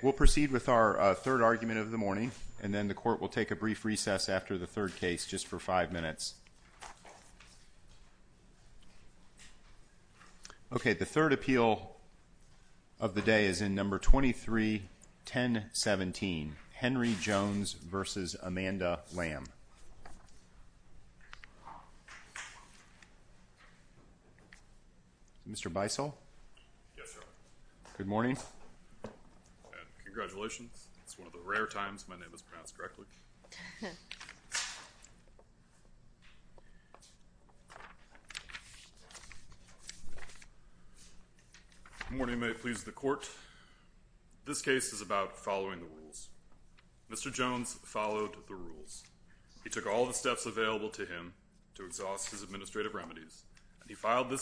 We'll proceed with our third argument of the morning, and then the court will take a brief recess after the third case, just for five minutes. Okay, the third appeal of the day is in number 23-1017, Henry Jones v. Amanda Lamb. Mr. Bissell? Yes, sir. Good morning. Good morning. It's one of the rare times my name is pronounced correctly. Good morning, may it please the court. This case is about following the rules. Mr. Jones followed the rules. He took all the steps available to him to exhaust his administrative remedies, and he did not permit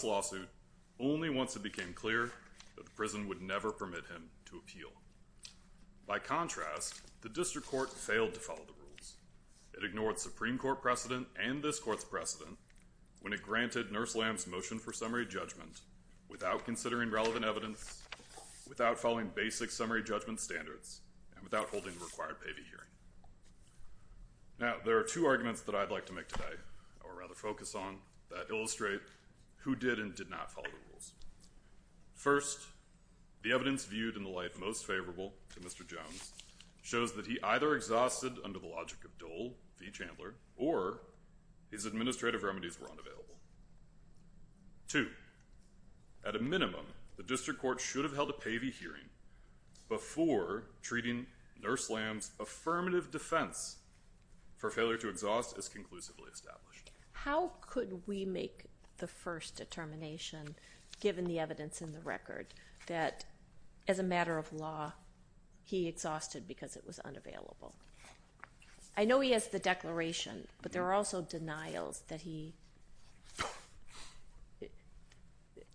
him to appeal. By contrast, the district court failed to follow the rules. It ignored Supreme Court precedent and this court's precedent when it granted Nurse Lamb's motion for summary judgment without considering relevant evidence, without following basic summary judgment standards, and without holding the required pay-to-hearing. Now there are two arguments that I'd like to make today, or rather focus on, that illustrate who did and did not follow the rules. First, the evidence viewed in the light most favorable to Mr. Jones shows that he either exhausted under the logic of Dole v. Chandler, or his administrative remedies were unavailable. Two, at a minimum, the district court should have held a pay-to-hearing before treating Nurse Lamb's affirmative defense for failure to exhaust as conclusively established. How could we make the first determination, given the evidence in the record, that as a matter of law, he exhausted because it was unavailable? I know he has the declaration, but there are also denials that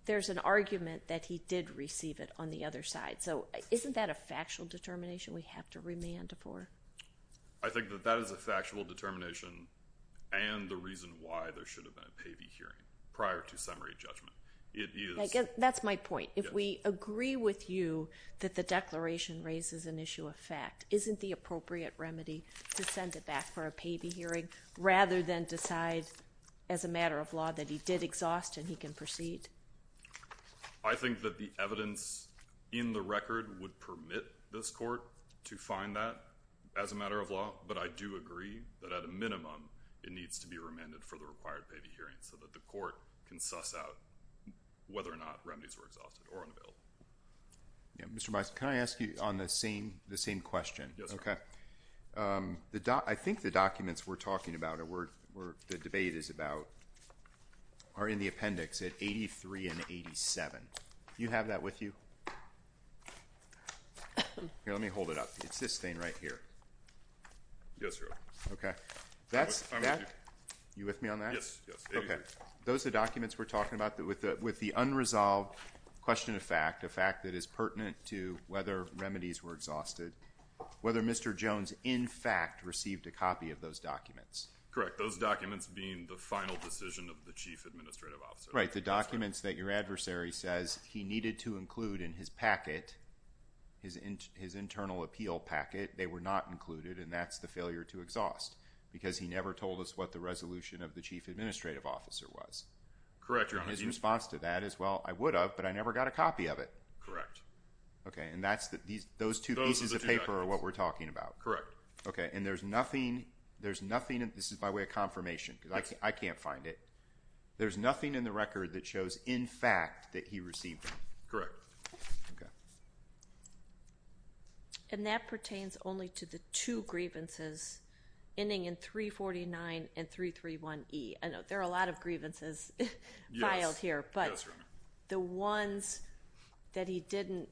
he—there's an argument that he did receive it on the other side. So isn't that a factual determination we have to remand for? I think that that is a factual determination, and the reason why there should have been a pay-to-hearing, prior to summary judgment. It is— That's my point. If we agree with you that the declaration raises an issue of fact, isn't the appropriate remedy to send it back for a pay-to-hearing, rather than decide, as a matter of law, that he did exhaust and he can proceed? I think that the evidence in the record would permit this court to find that, as a matter of law, but I do agree that, at a minimum, it needs to be remanded for the required pay-to-hearing, so that the court can suss out whether or not remedies were exhausted or unavailable. Yeah. Mr. Bison, can I ask you on the same question? Yes. Okay. I think the documents we're talking about, or where the debate is about, are in the appendix at 83 and 87. You have that with you? Here, let me hold it up. It's this thing right here. Yes, Your Honor. Okay. That's— You with me on that? Yes. Yes. 83. Okay. Those are documents we're talking about with the unresolved question of fact, a fact that is pertinent to whether remedies were exhausted, whether Mr. Jones, in fact, received a copy of those documents. Correct. Those documents being the final decision of the Chief Administrative Officer. Right. The documents that your adversary says he needed to include in his packet, his internal appeal packet, they were not included, and that's the failure to exhaust, because he never told us what the resolution of the Chief Administrative Officer was. Correct, Your Honor. And his response to that is, well, I would have, but I never got a copy of it. Correct. Okay. And that's— Those are the two documents. Those two pieces of paper are what we're talking about. Correct. Okay. And there's nothing—this is by way of confirmation, because I can't find it—there's nothing in the record that shows, in fact, that he received them. Okay. And that pertains only to the two grievances ending in 349 and 331E. I know there are a lot of grievances filed here, but the ones that he didn't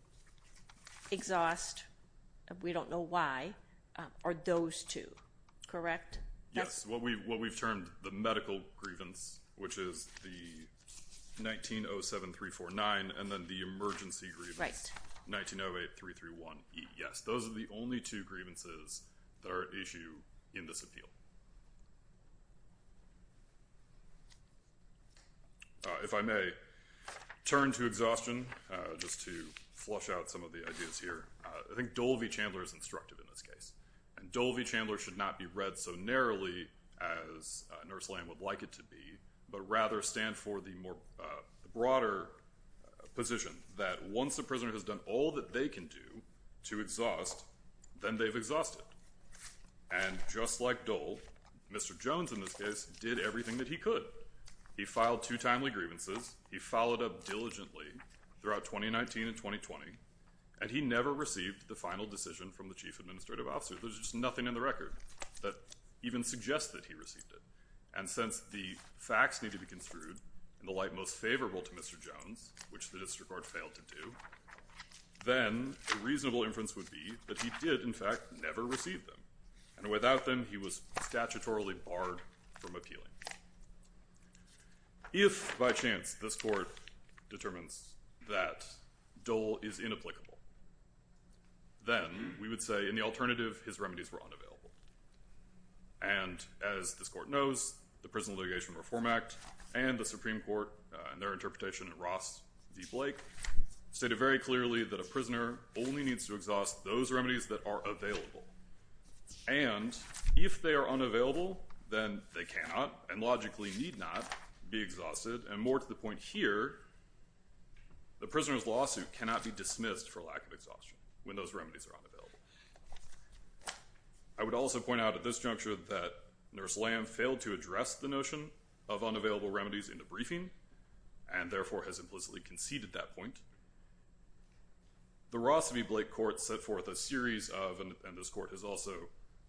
exhaust, we don't know why, are those two, correct? Yes. What we've termed the medical grievance, which is the 1907349, and then the emergency grievance— Right. —1908331E. Yes. Those are the only two grievances that are at issue in this appeal. If I may turn to exhaustion, just to flush out some of the ideas here, I think Dole v. Chandler should not be read so narrowly as Nurse Lamb would like it to be, but rather stand for the more broader position that once a prisoner has done all that they can do to exhaust, then they've exhausted. And just like Dole, Mr. Jones, in this case, did everything that he could. He filed two timely grievances. He followed up diligently throughout 2019 and 2020, and he never received the final decision from the Chief Administrative Officer. There's just nothing in the record that even suggests that he received it. And since the facts need to be construed in the light most favorable to Mr. Jones, which the district court failed to do, then a reasonable inference would be that he did, in fact, never receive them. And without them, he was statutorily barred from appealing. If by chance this court determines that Dole is inapplicable, then we would say in the alternative his remedies were unavailable. And as this court knows, the Prison Litigation Reform Act and the Supreme Court in their interpretation of Ross v. Blake stated very clearly that a prisoner only needs to exhaust those remedies that are available. And if they are unavailable, then they cannot and logically need not be exhausted, and more to the point here, the prisoner's lawsuit cannot be dismissed for lack of exhaustion when those remedies are unavailable. I would also point out at this juncture that Nurse Lamb failed to address the notion of unavailable remedies in the briefing, and therefore has implicitly conceded that point. The Ross v. Blake court set forth a series of, and this court has also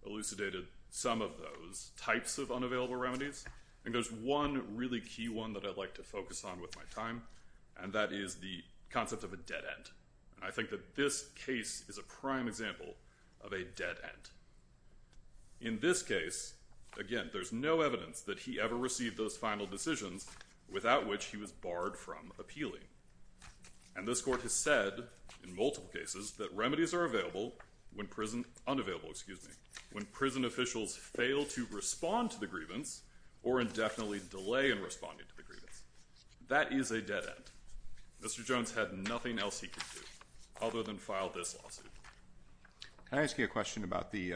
elucidated some of those types of unavailable remedies, and there's one really key one that I'd like to focus on with my time, and that is the concept of a dead end. And I think that this case is a prime example of a dead end. In this case, again, there's no evidence that he ever received those final decisions without which he was barred from appealing. And this court has said in multiple cases that remedies are available when prison, unavailable, excuse me, when prison officials fail to respond to the grievance or indefinitely delay in responding to the grievance. That is a dead end. Mr. Jones had nothing else he could do other than file this lawsuit. Can I ask you a question about the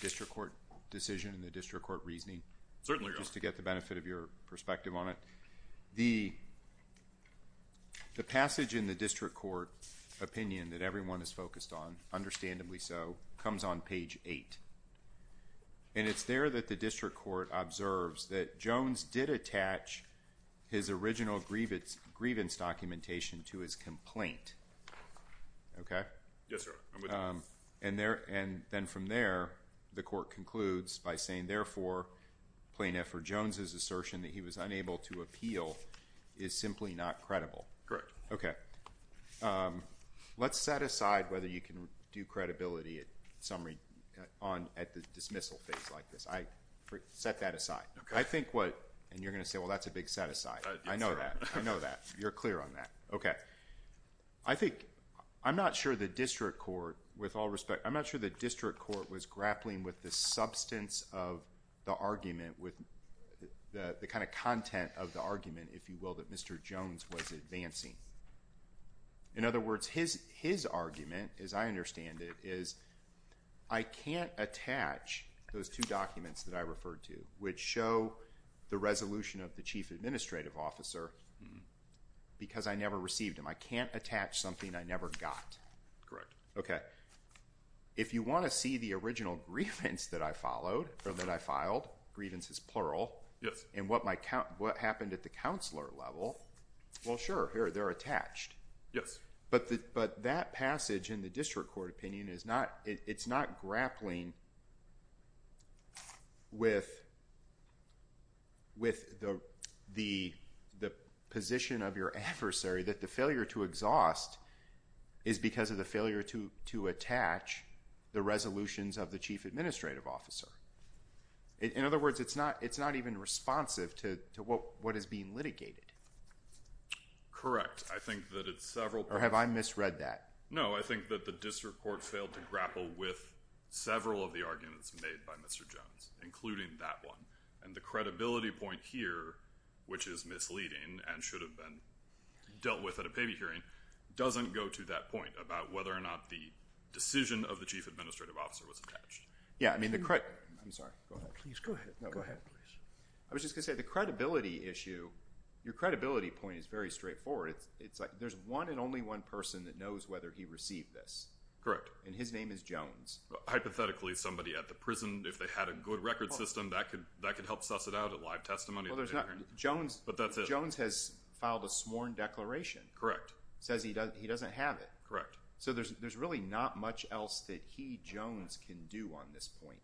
district court decision and the district court reasoning? Certainly, Your Honor. Just to get the benefit of your perspective on it. The passage in the district court opinion that everyone is focused on, understandably so, comes on page 8. And it's there that the district court observes that Jones did attach his original grievance documentation to his complaint. Yes, sir. I'm with you. And then from there, the court concludes by saying, therefore, Plaintiff for Jones's assertion that he was unable to appeal is simply not credible. Correct. Okay. Let's set aside whether you can do credibility at the dismissal phase like this. Set that aside. Okay. I think what, and you're going to say, well, that's a big set aside. I know that. I know that. You're clear on that. I think, I'm not sure the district court, with all respect, I'm not sure the district court was grappling with the substance of the argument, with the kind of content of the argument, if you will, that Mr. Jones was advancing. In other words, his argument, as I understand it, is I can't attach those two documents that I referred to, which show the resolution of the chief administrative officer, because I never received them. I can't attach something I never got. Correct. Okay. If you want to see the original grievance that I followed, or that I filed, grievance is plural. Yes. And what happened at the counselor level, well, sure, here, they're attached. Yes. But that passage in the district court opinion is not, it's not grappling with the position of your adversary that the failure to exhaust is because of the failure to attach the resolutions of the chief administrative officer. In other words, it's not even responsive to what is being litigated. Correct. I think that it's several... Or have I misread that? No. I think that the district court failed to grapple with several of the arguments made by Mr. Jones, including that one. And the credibility point here, which is misleading, and should have been dealt with at a pay-to-hearing, doesn't go to that point about whether or not the decision of the chief administrative officer was attached. Yeah. I mean, the... I'm sorry. Go ahead. Please, go ahead. No, go ahead. I was just going to say, the credibility issue, your credibility point is very straightforward. It's like, there's one and only one person that knows whether he received this. And his name is Jones. Well, hypothetically, somebody at the prison, if they had a good record system, that could help suss it out at live testimony. Well, there's not... Jones... But that's it. Jones has filed a sworn declaration... Correct. Says he doesn't have it. Correct. So there's really not much else that he, Jones, can do on this point.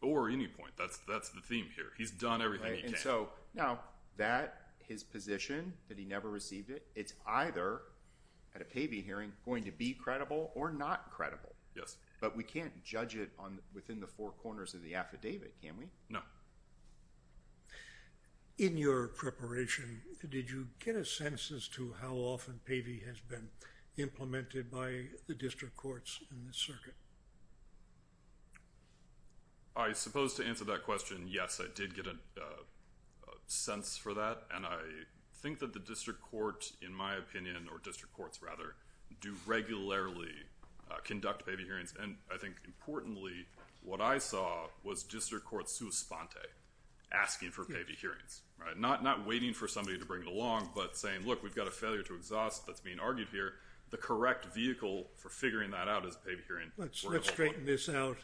Or any point. That's the theme here. He's done everything he can. Right. So, now, that, his position, that he never received it, it's either, at a Pavey hearing, going to be credible or not credible. Yes. But we can't judge it on, within the four corners of the affidavit, can we? No. In your preparation, did you get a sense as to how often Pavey has been implemented by the district courts in the circuit? I suppose to answer that question, yes. I did get a sense for that. And I think that the district court, in my opinion, or district courts, rather, do regularly conduct Pavey hearings. And I think, importantly, what I saw was district courts suspente, asking for Pavey hearings. Not waiting for somebody to bring it along, but saying, look, we've got a failure to exhaust that's being argued here. The correct vehicle for figuring that out is Pavey hearing... Let's straighten this out,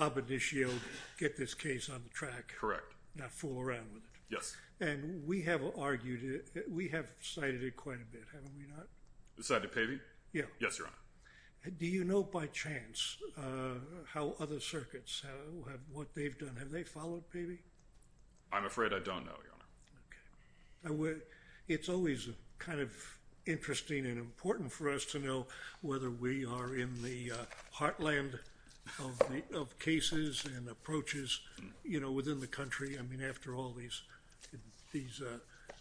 ab initio, get this case on the track. Correct. Not fool around with it. Yes. And we have argued it. We have cited it quite a bit, haven't we not? Cited Pavey? Yeah. Yes, Your Honor. Do you know by chance how other circuits, what they've done, have they followed Pavey? I'm afraid I don't know, Your Honor. Okay. It's always kind of interesting and important for us to know whether we are in the heartland of cases and approaches, you know, within the country. I mean, after all, these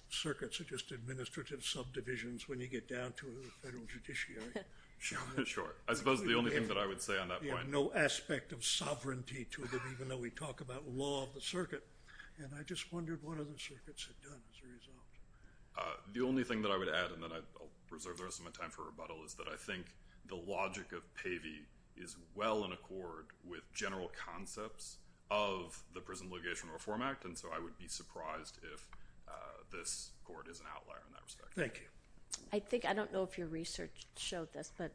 circuits are just administrative subdivisions when you get down to a federal judiciary. Sure. Sure. I suppose the only thing that I would say on that point... You have no aspect of sovereignty to them, even though we talk about law of the circuit. And I just wondered what other circuits have done as a result. The only thing that I would add, and then I'll reserve the rest of my time for rebuttal, is that I think the logic of Pavey is well-founded. with general concepts of the Prison Litigation Reform Act, and so I would be surprised if this court is an outlier in that respect. Thank you. I think... I don't know if your research showed this, but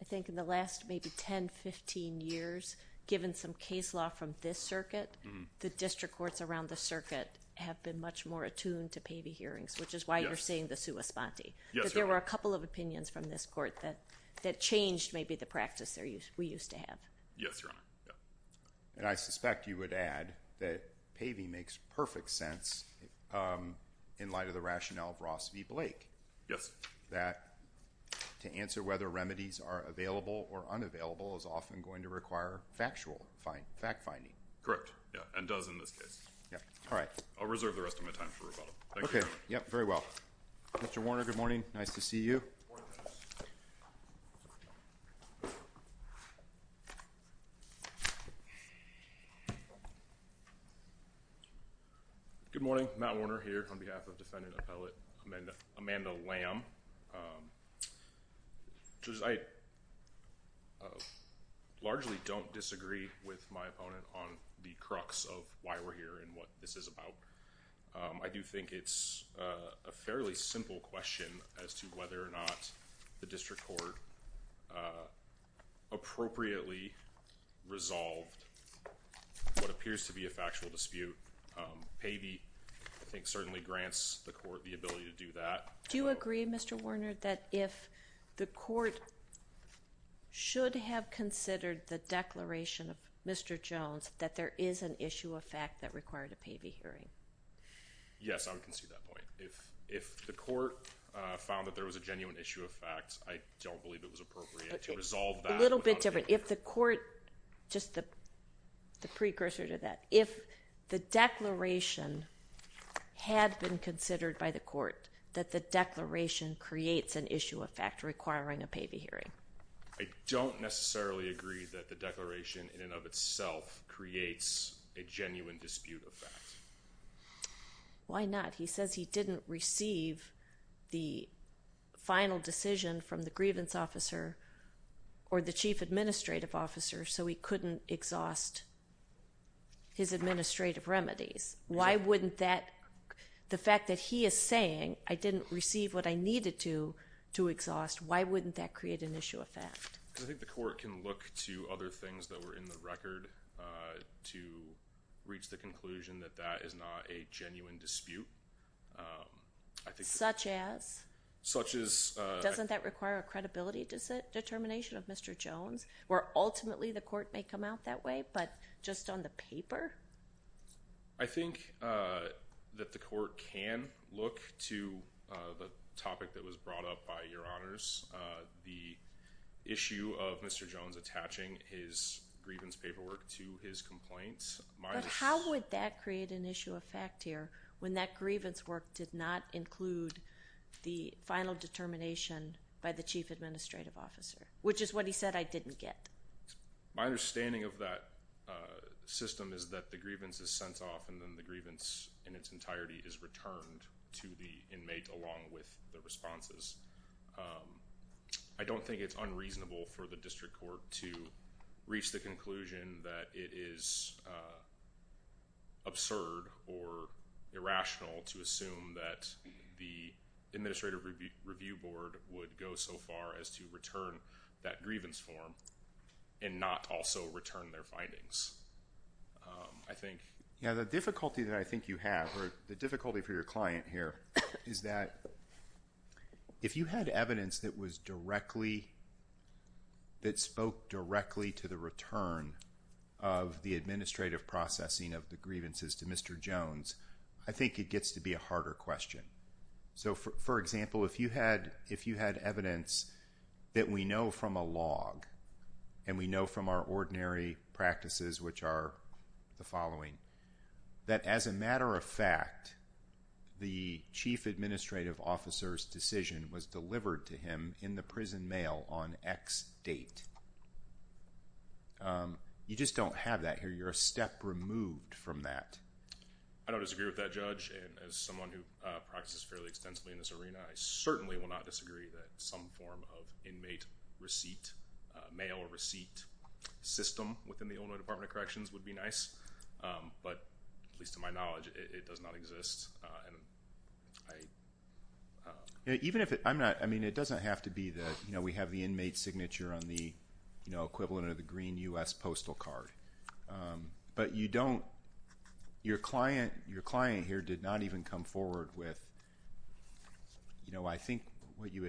I think in the last maybe 10, 15 years, given some case law from this circuit, the district courts around the circuit have been much more attuned to Pavey hearings, which is why you're saying the sua sponte. Yes, Your Honor. But there were a couple of opinions from this court that changed maybe the practice we used to have. Yes, Your Honor. Yeah. And I suspect you would add that Pavey makes perfect sense in light of the rationale of Ross v. Blake... Yes.... that to answer whether remedies are available or unavailable is often going to require factual fact-finding. Correct. Yeah. And does in this case. Yeah. All right. I'll reserve the rest of my time for rebuttal. Thank you. Okay. Yep. Very well. Mr. Warner, good morning. Nice to see you. Morning, Judge. Good morning. I'm Matt Warner here on behalf of Defendant Appellate Amanda Lamb. I largely don't disagree with my opponent on the crux of why we're here and what this is about. I do think it's a fairly simple question as to whether or not the district court appropriately resolved what appears to be a factual dispute. Pavey, I think, certainly grants the court the ability to do that. Do you agree, Mr. Warner, that if the court should have considered the declaration of Mr. Jones, that there is an issue of fact that required a Pavey hearing? Yes. I would concede that point. If the court found that there was a genuine issue of fact, I don't believe it was appropriate to resolve that without a Pavey hearing. A little bit different. If the court, just the precursor to that, if the declaration had been considered by the court, that the declaration creates an issue of fact requiring a Pavey hearing. I don't necessarily agree that the declaration in and of itself creates a genuine dispute of fact. Why not? He says he didn't receive the final decision from the grievance officer or the chief administrative officer, so he couldn't exhaust his administrative remedies. Why wouldn't that, the fact that he is saying, I didn't receive what I needed to exhaust, why wouldn't that create an issue of fact? Because I think the court can look to other things that were in the record to reach the conclusion that that is not a genuine dispute. Such as? Such as... Doesn't that require a credibility determination of Mr. Jones, where ultimately the court may come out that way, but just on the paper? I think that the court can look to the topic that was brought up by Your Honors, the issue of Mr. Jones attaching his grievance paperwork to his complaints. How would that create an issue of fact here when that grievance work did not include the final determination by the chief administrative officer, which is what he said I didn't get? My understanding of that system is that the grievance is sent off and then the grievance in its entirety is returned to the inmate along with the responses. I don't think it's unreasonable for the district court to reach the conclusion that it is absurd or irrational to assume that the administrative review board would go so far as to return that grievance form and not also return their findings. I think... The difficulty that I think you have, or the difficulty for your client here, is that if you had evidence that was directly, that spoke directly to the return of the administrative processing of the grievances to Mr. Jones, I think it gets to be a harder question. For example, if you had evidence that we know from a log and we know from our ordinary practices, which are the following, that as a matter of fact, the chief administrative officer's decision was delivered to him in the prison mail on X date. You just don't have that here. You're a step removed from that. I don't disagree with that, Judge. As someone who practices fairly extensively in this arena, I certainly will not disagree that some form of inmate receipt, mail receipt system within the Illinois Department of Corrections would be nice. But, at least to my knowledge, it does not exist. Even if it... I mean, it doesn't have to be that we have the inmate signature on the equivalent of the green U.S. postal card. But, you don't... your client here did not even come forward with, I think, what you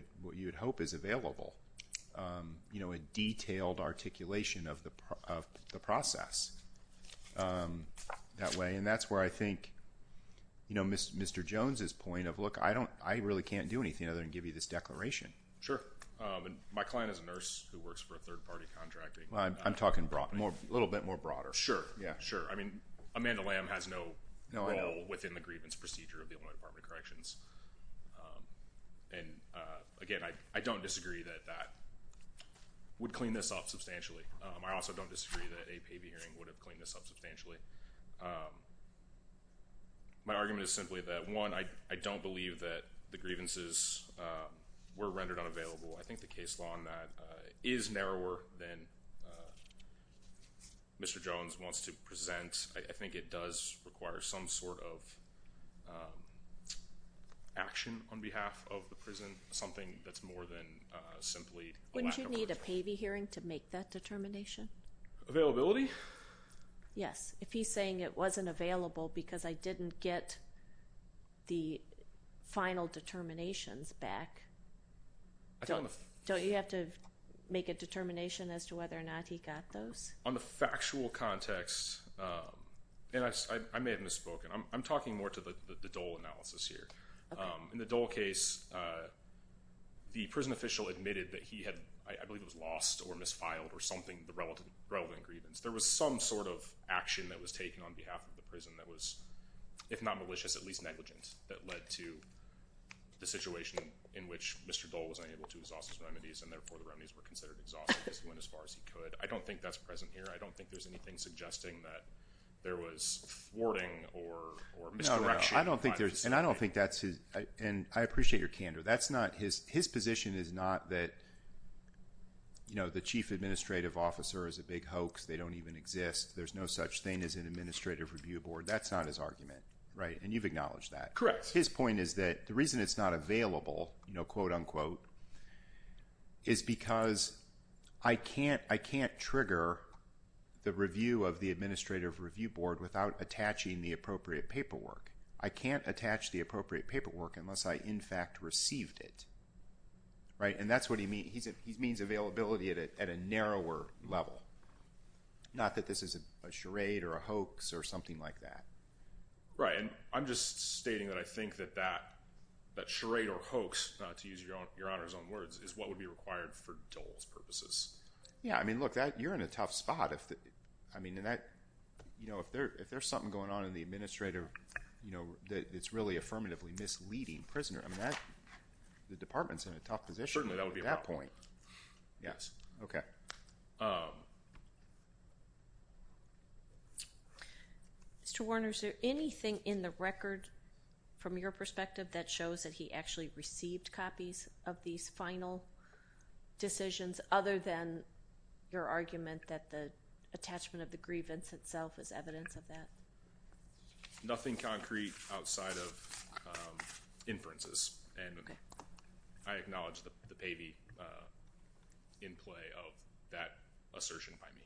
would hope is available, a detailed articulation of the process that way. That's where I think Mr. Jones' point of, look, I really can't do anything other than give you this declaration. Sure. My client is a nurse who works for a third-party contractor. I'm talking a little bit more broader. Yeah. Sure. I mean, Amanda Lamb has no role within the grievance procedure of the Illinois Department of Corrections. And, again, I don't disagree that that would clean this up substantially. I also don't disagree that a payee hearing would have cleaned this up substantially. My argument is simply that, one, I don't believe that the grievances were rendered unavailable. I think the case law on that is narrower than Mr. Jones wants to present. I think it does require some sort of action on behalf of the prison, something that's more than simply a lack of work. Wouldn't you need a payee hearing to make that determination? Availability? Yes. If he's saying it wasn't available because I didn't get the final determinations back, don't you have to make a determination as to whether or not he got those? On the factual context, and I may have misspoken. I'm talking more to the Dole analysis here. In the Dole case, the prison official admitted that he had, I believe it was lost or misfiled or something, the relevant grievance. There was some sort of action that was taken on behalf of the prison that was, if not malicious, at least negligent that led to the situation in which Mr. Dole was unable to exhaust his remedies and therefore the remedies were considered exhaustive because he went as far as he could. I don't think that's present here. I don't think there's anything suggesting that there was thwarting or misdirection. No, I don't think there's, and I don't think that's his, and I appreciate your candor. That's not his, his position is not that, you know, the chief administrative officer is a big hoax. They don't even exist. There's no such thing as an administrative review board. That's not his argument, right? And you've acknowledged that. His point is that the reason it's not available, you know, quote, unquote, is because I can't, I can't trigger the review of the administrative review board without attaching the appropriate paperwork. I can't attach the appropriate paperwork unless I, in fact, received it, right? And that's what he means. He means availability at a narrower level. Not that this is a charade or a hoax or something like that. Right, and I'm just stating that I think that that charade or hoax, to use your Honor's own words, is what would be required for Dole's purposes. Yeah, I mean, look, that, you're in a tough spot. I mean, and that, you know, if there's something going on in the administrative, you know, that it's really affirmatively misleading prisoner, I mean, that, the department's in a tough position at that point. Yes. Okay. Mr. Warner, is there anything in the record, from your perspective, that shows that he actually received copies of these final decisions other than your argument that the attachment of the grievance itself is evidence of that? Nothing concrete outside of inferences. Okay. I acknowledge the pavy in play of that assertion by me.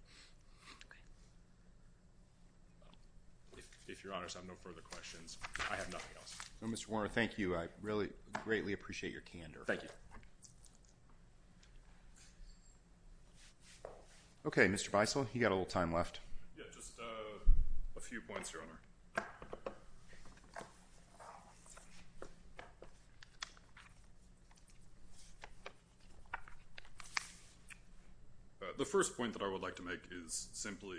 Okay. If your Honor's have no further questions, I have nothing else. No, Mr. Warner, thank you. I really, greatly appreciate your candor. Thank you. Okay, Mr. Beissel, you've got a little time left. Yeah, just a few points, Your Honor. The first point that I would like to make is simply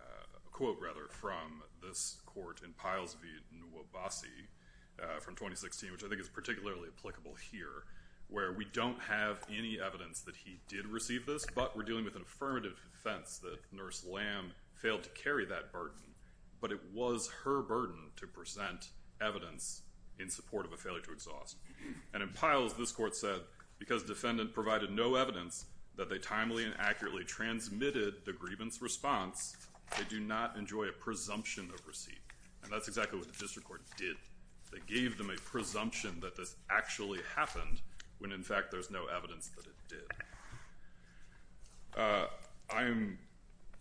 a quote, rather, from this court in Piles v. Nuobasi from 2016, which I think is particularly applicable here, where we don't have any evidence that he did receive this, but we're dealing with an affirmative defense that Nurse Lamb failed to carry that burden, but it was her burden to present evidence in support of a failure to exhaust. And in Piles, this court said, because defendant provided no evidence that they timely and accurately transmitted the grievance response, they do not enjoy a presumption of receipt. And that's exactly what the district court did. They gave them a presumption that this actually happened when, in fact, there's no evidence that it did. I am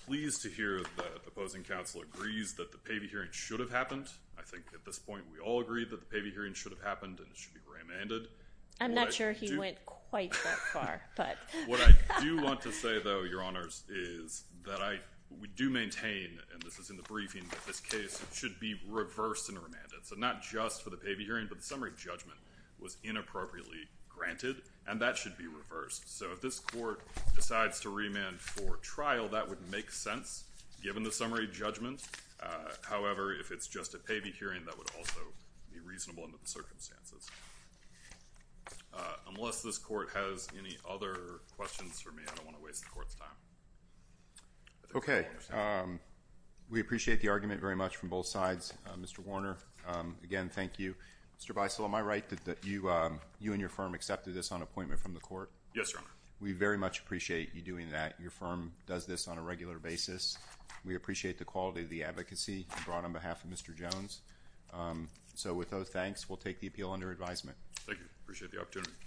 pleased to hear that the opposing counsel agrees that the pavy hearing should have happened. I think, at this point, we all agree that the pavy hearing should have happened and that it should be remanded. I'm not sure he went quite that far, but... What I do want to say, though, Your Honors, is that I... we do maintain, and this is in the briefing, that this case should be reversed and remanded. So, not just for the pavy hearing, but the summary judgment was inappropriately granted, and that should be reversed. So, if this court decides to remand for trial, that would make sense, given the summary judgment. However, if it's just a pavy hearing, that would also be reasonable under the circumstances. Unless this court has any other questions for me, I don't want to waste the court's time. Okay. We appreciate the argument very much from both sides. Mr. Warner, again, thank you. Mr. Beissel, am I right that you and your firm accepted this on appointment from the court? Yes, Your Honor. We very much appreciate you doing that. Your firm does this on a regular basis. We appreciate the quality of the advocacy brought on behalf of Mr. Jones. So, with those thanks, we'll take the appeal under advisement. Thank you. Appreciate the opportunity.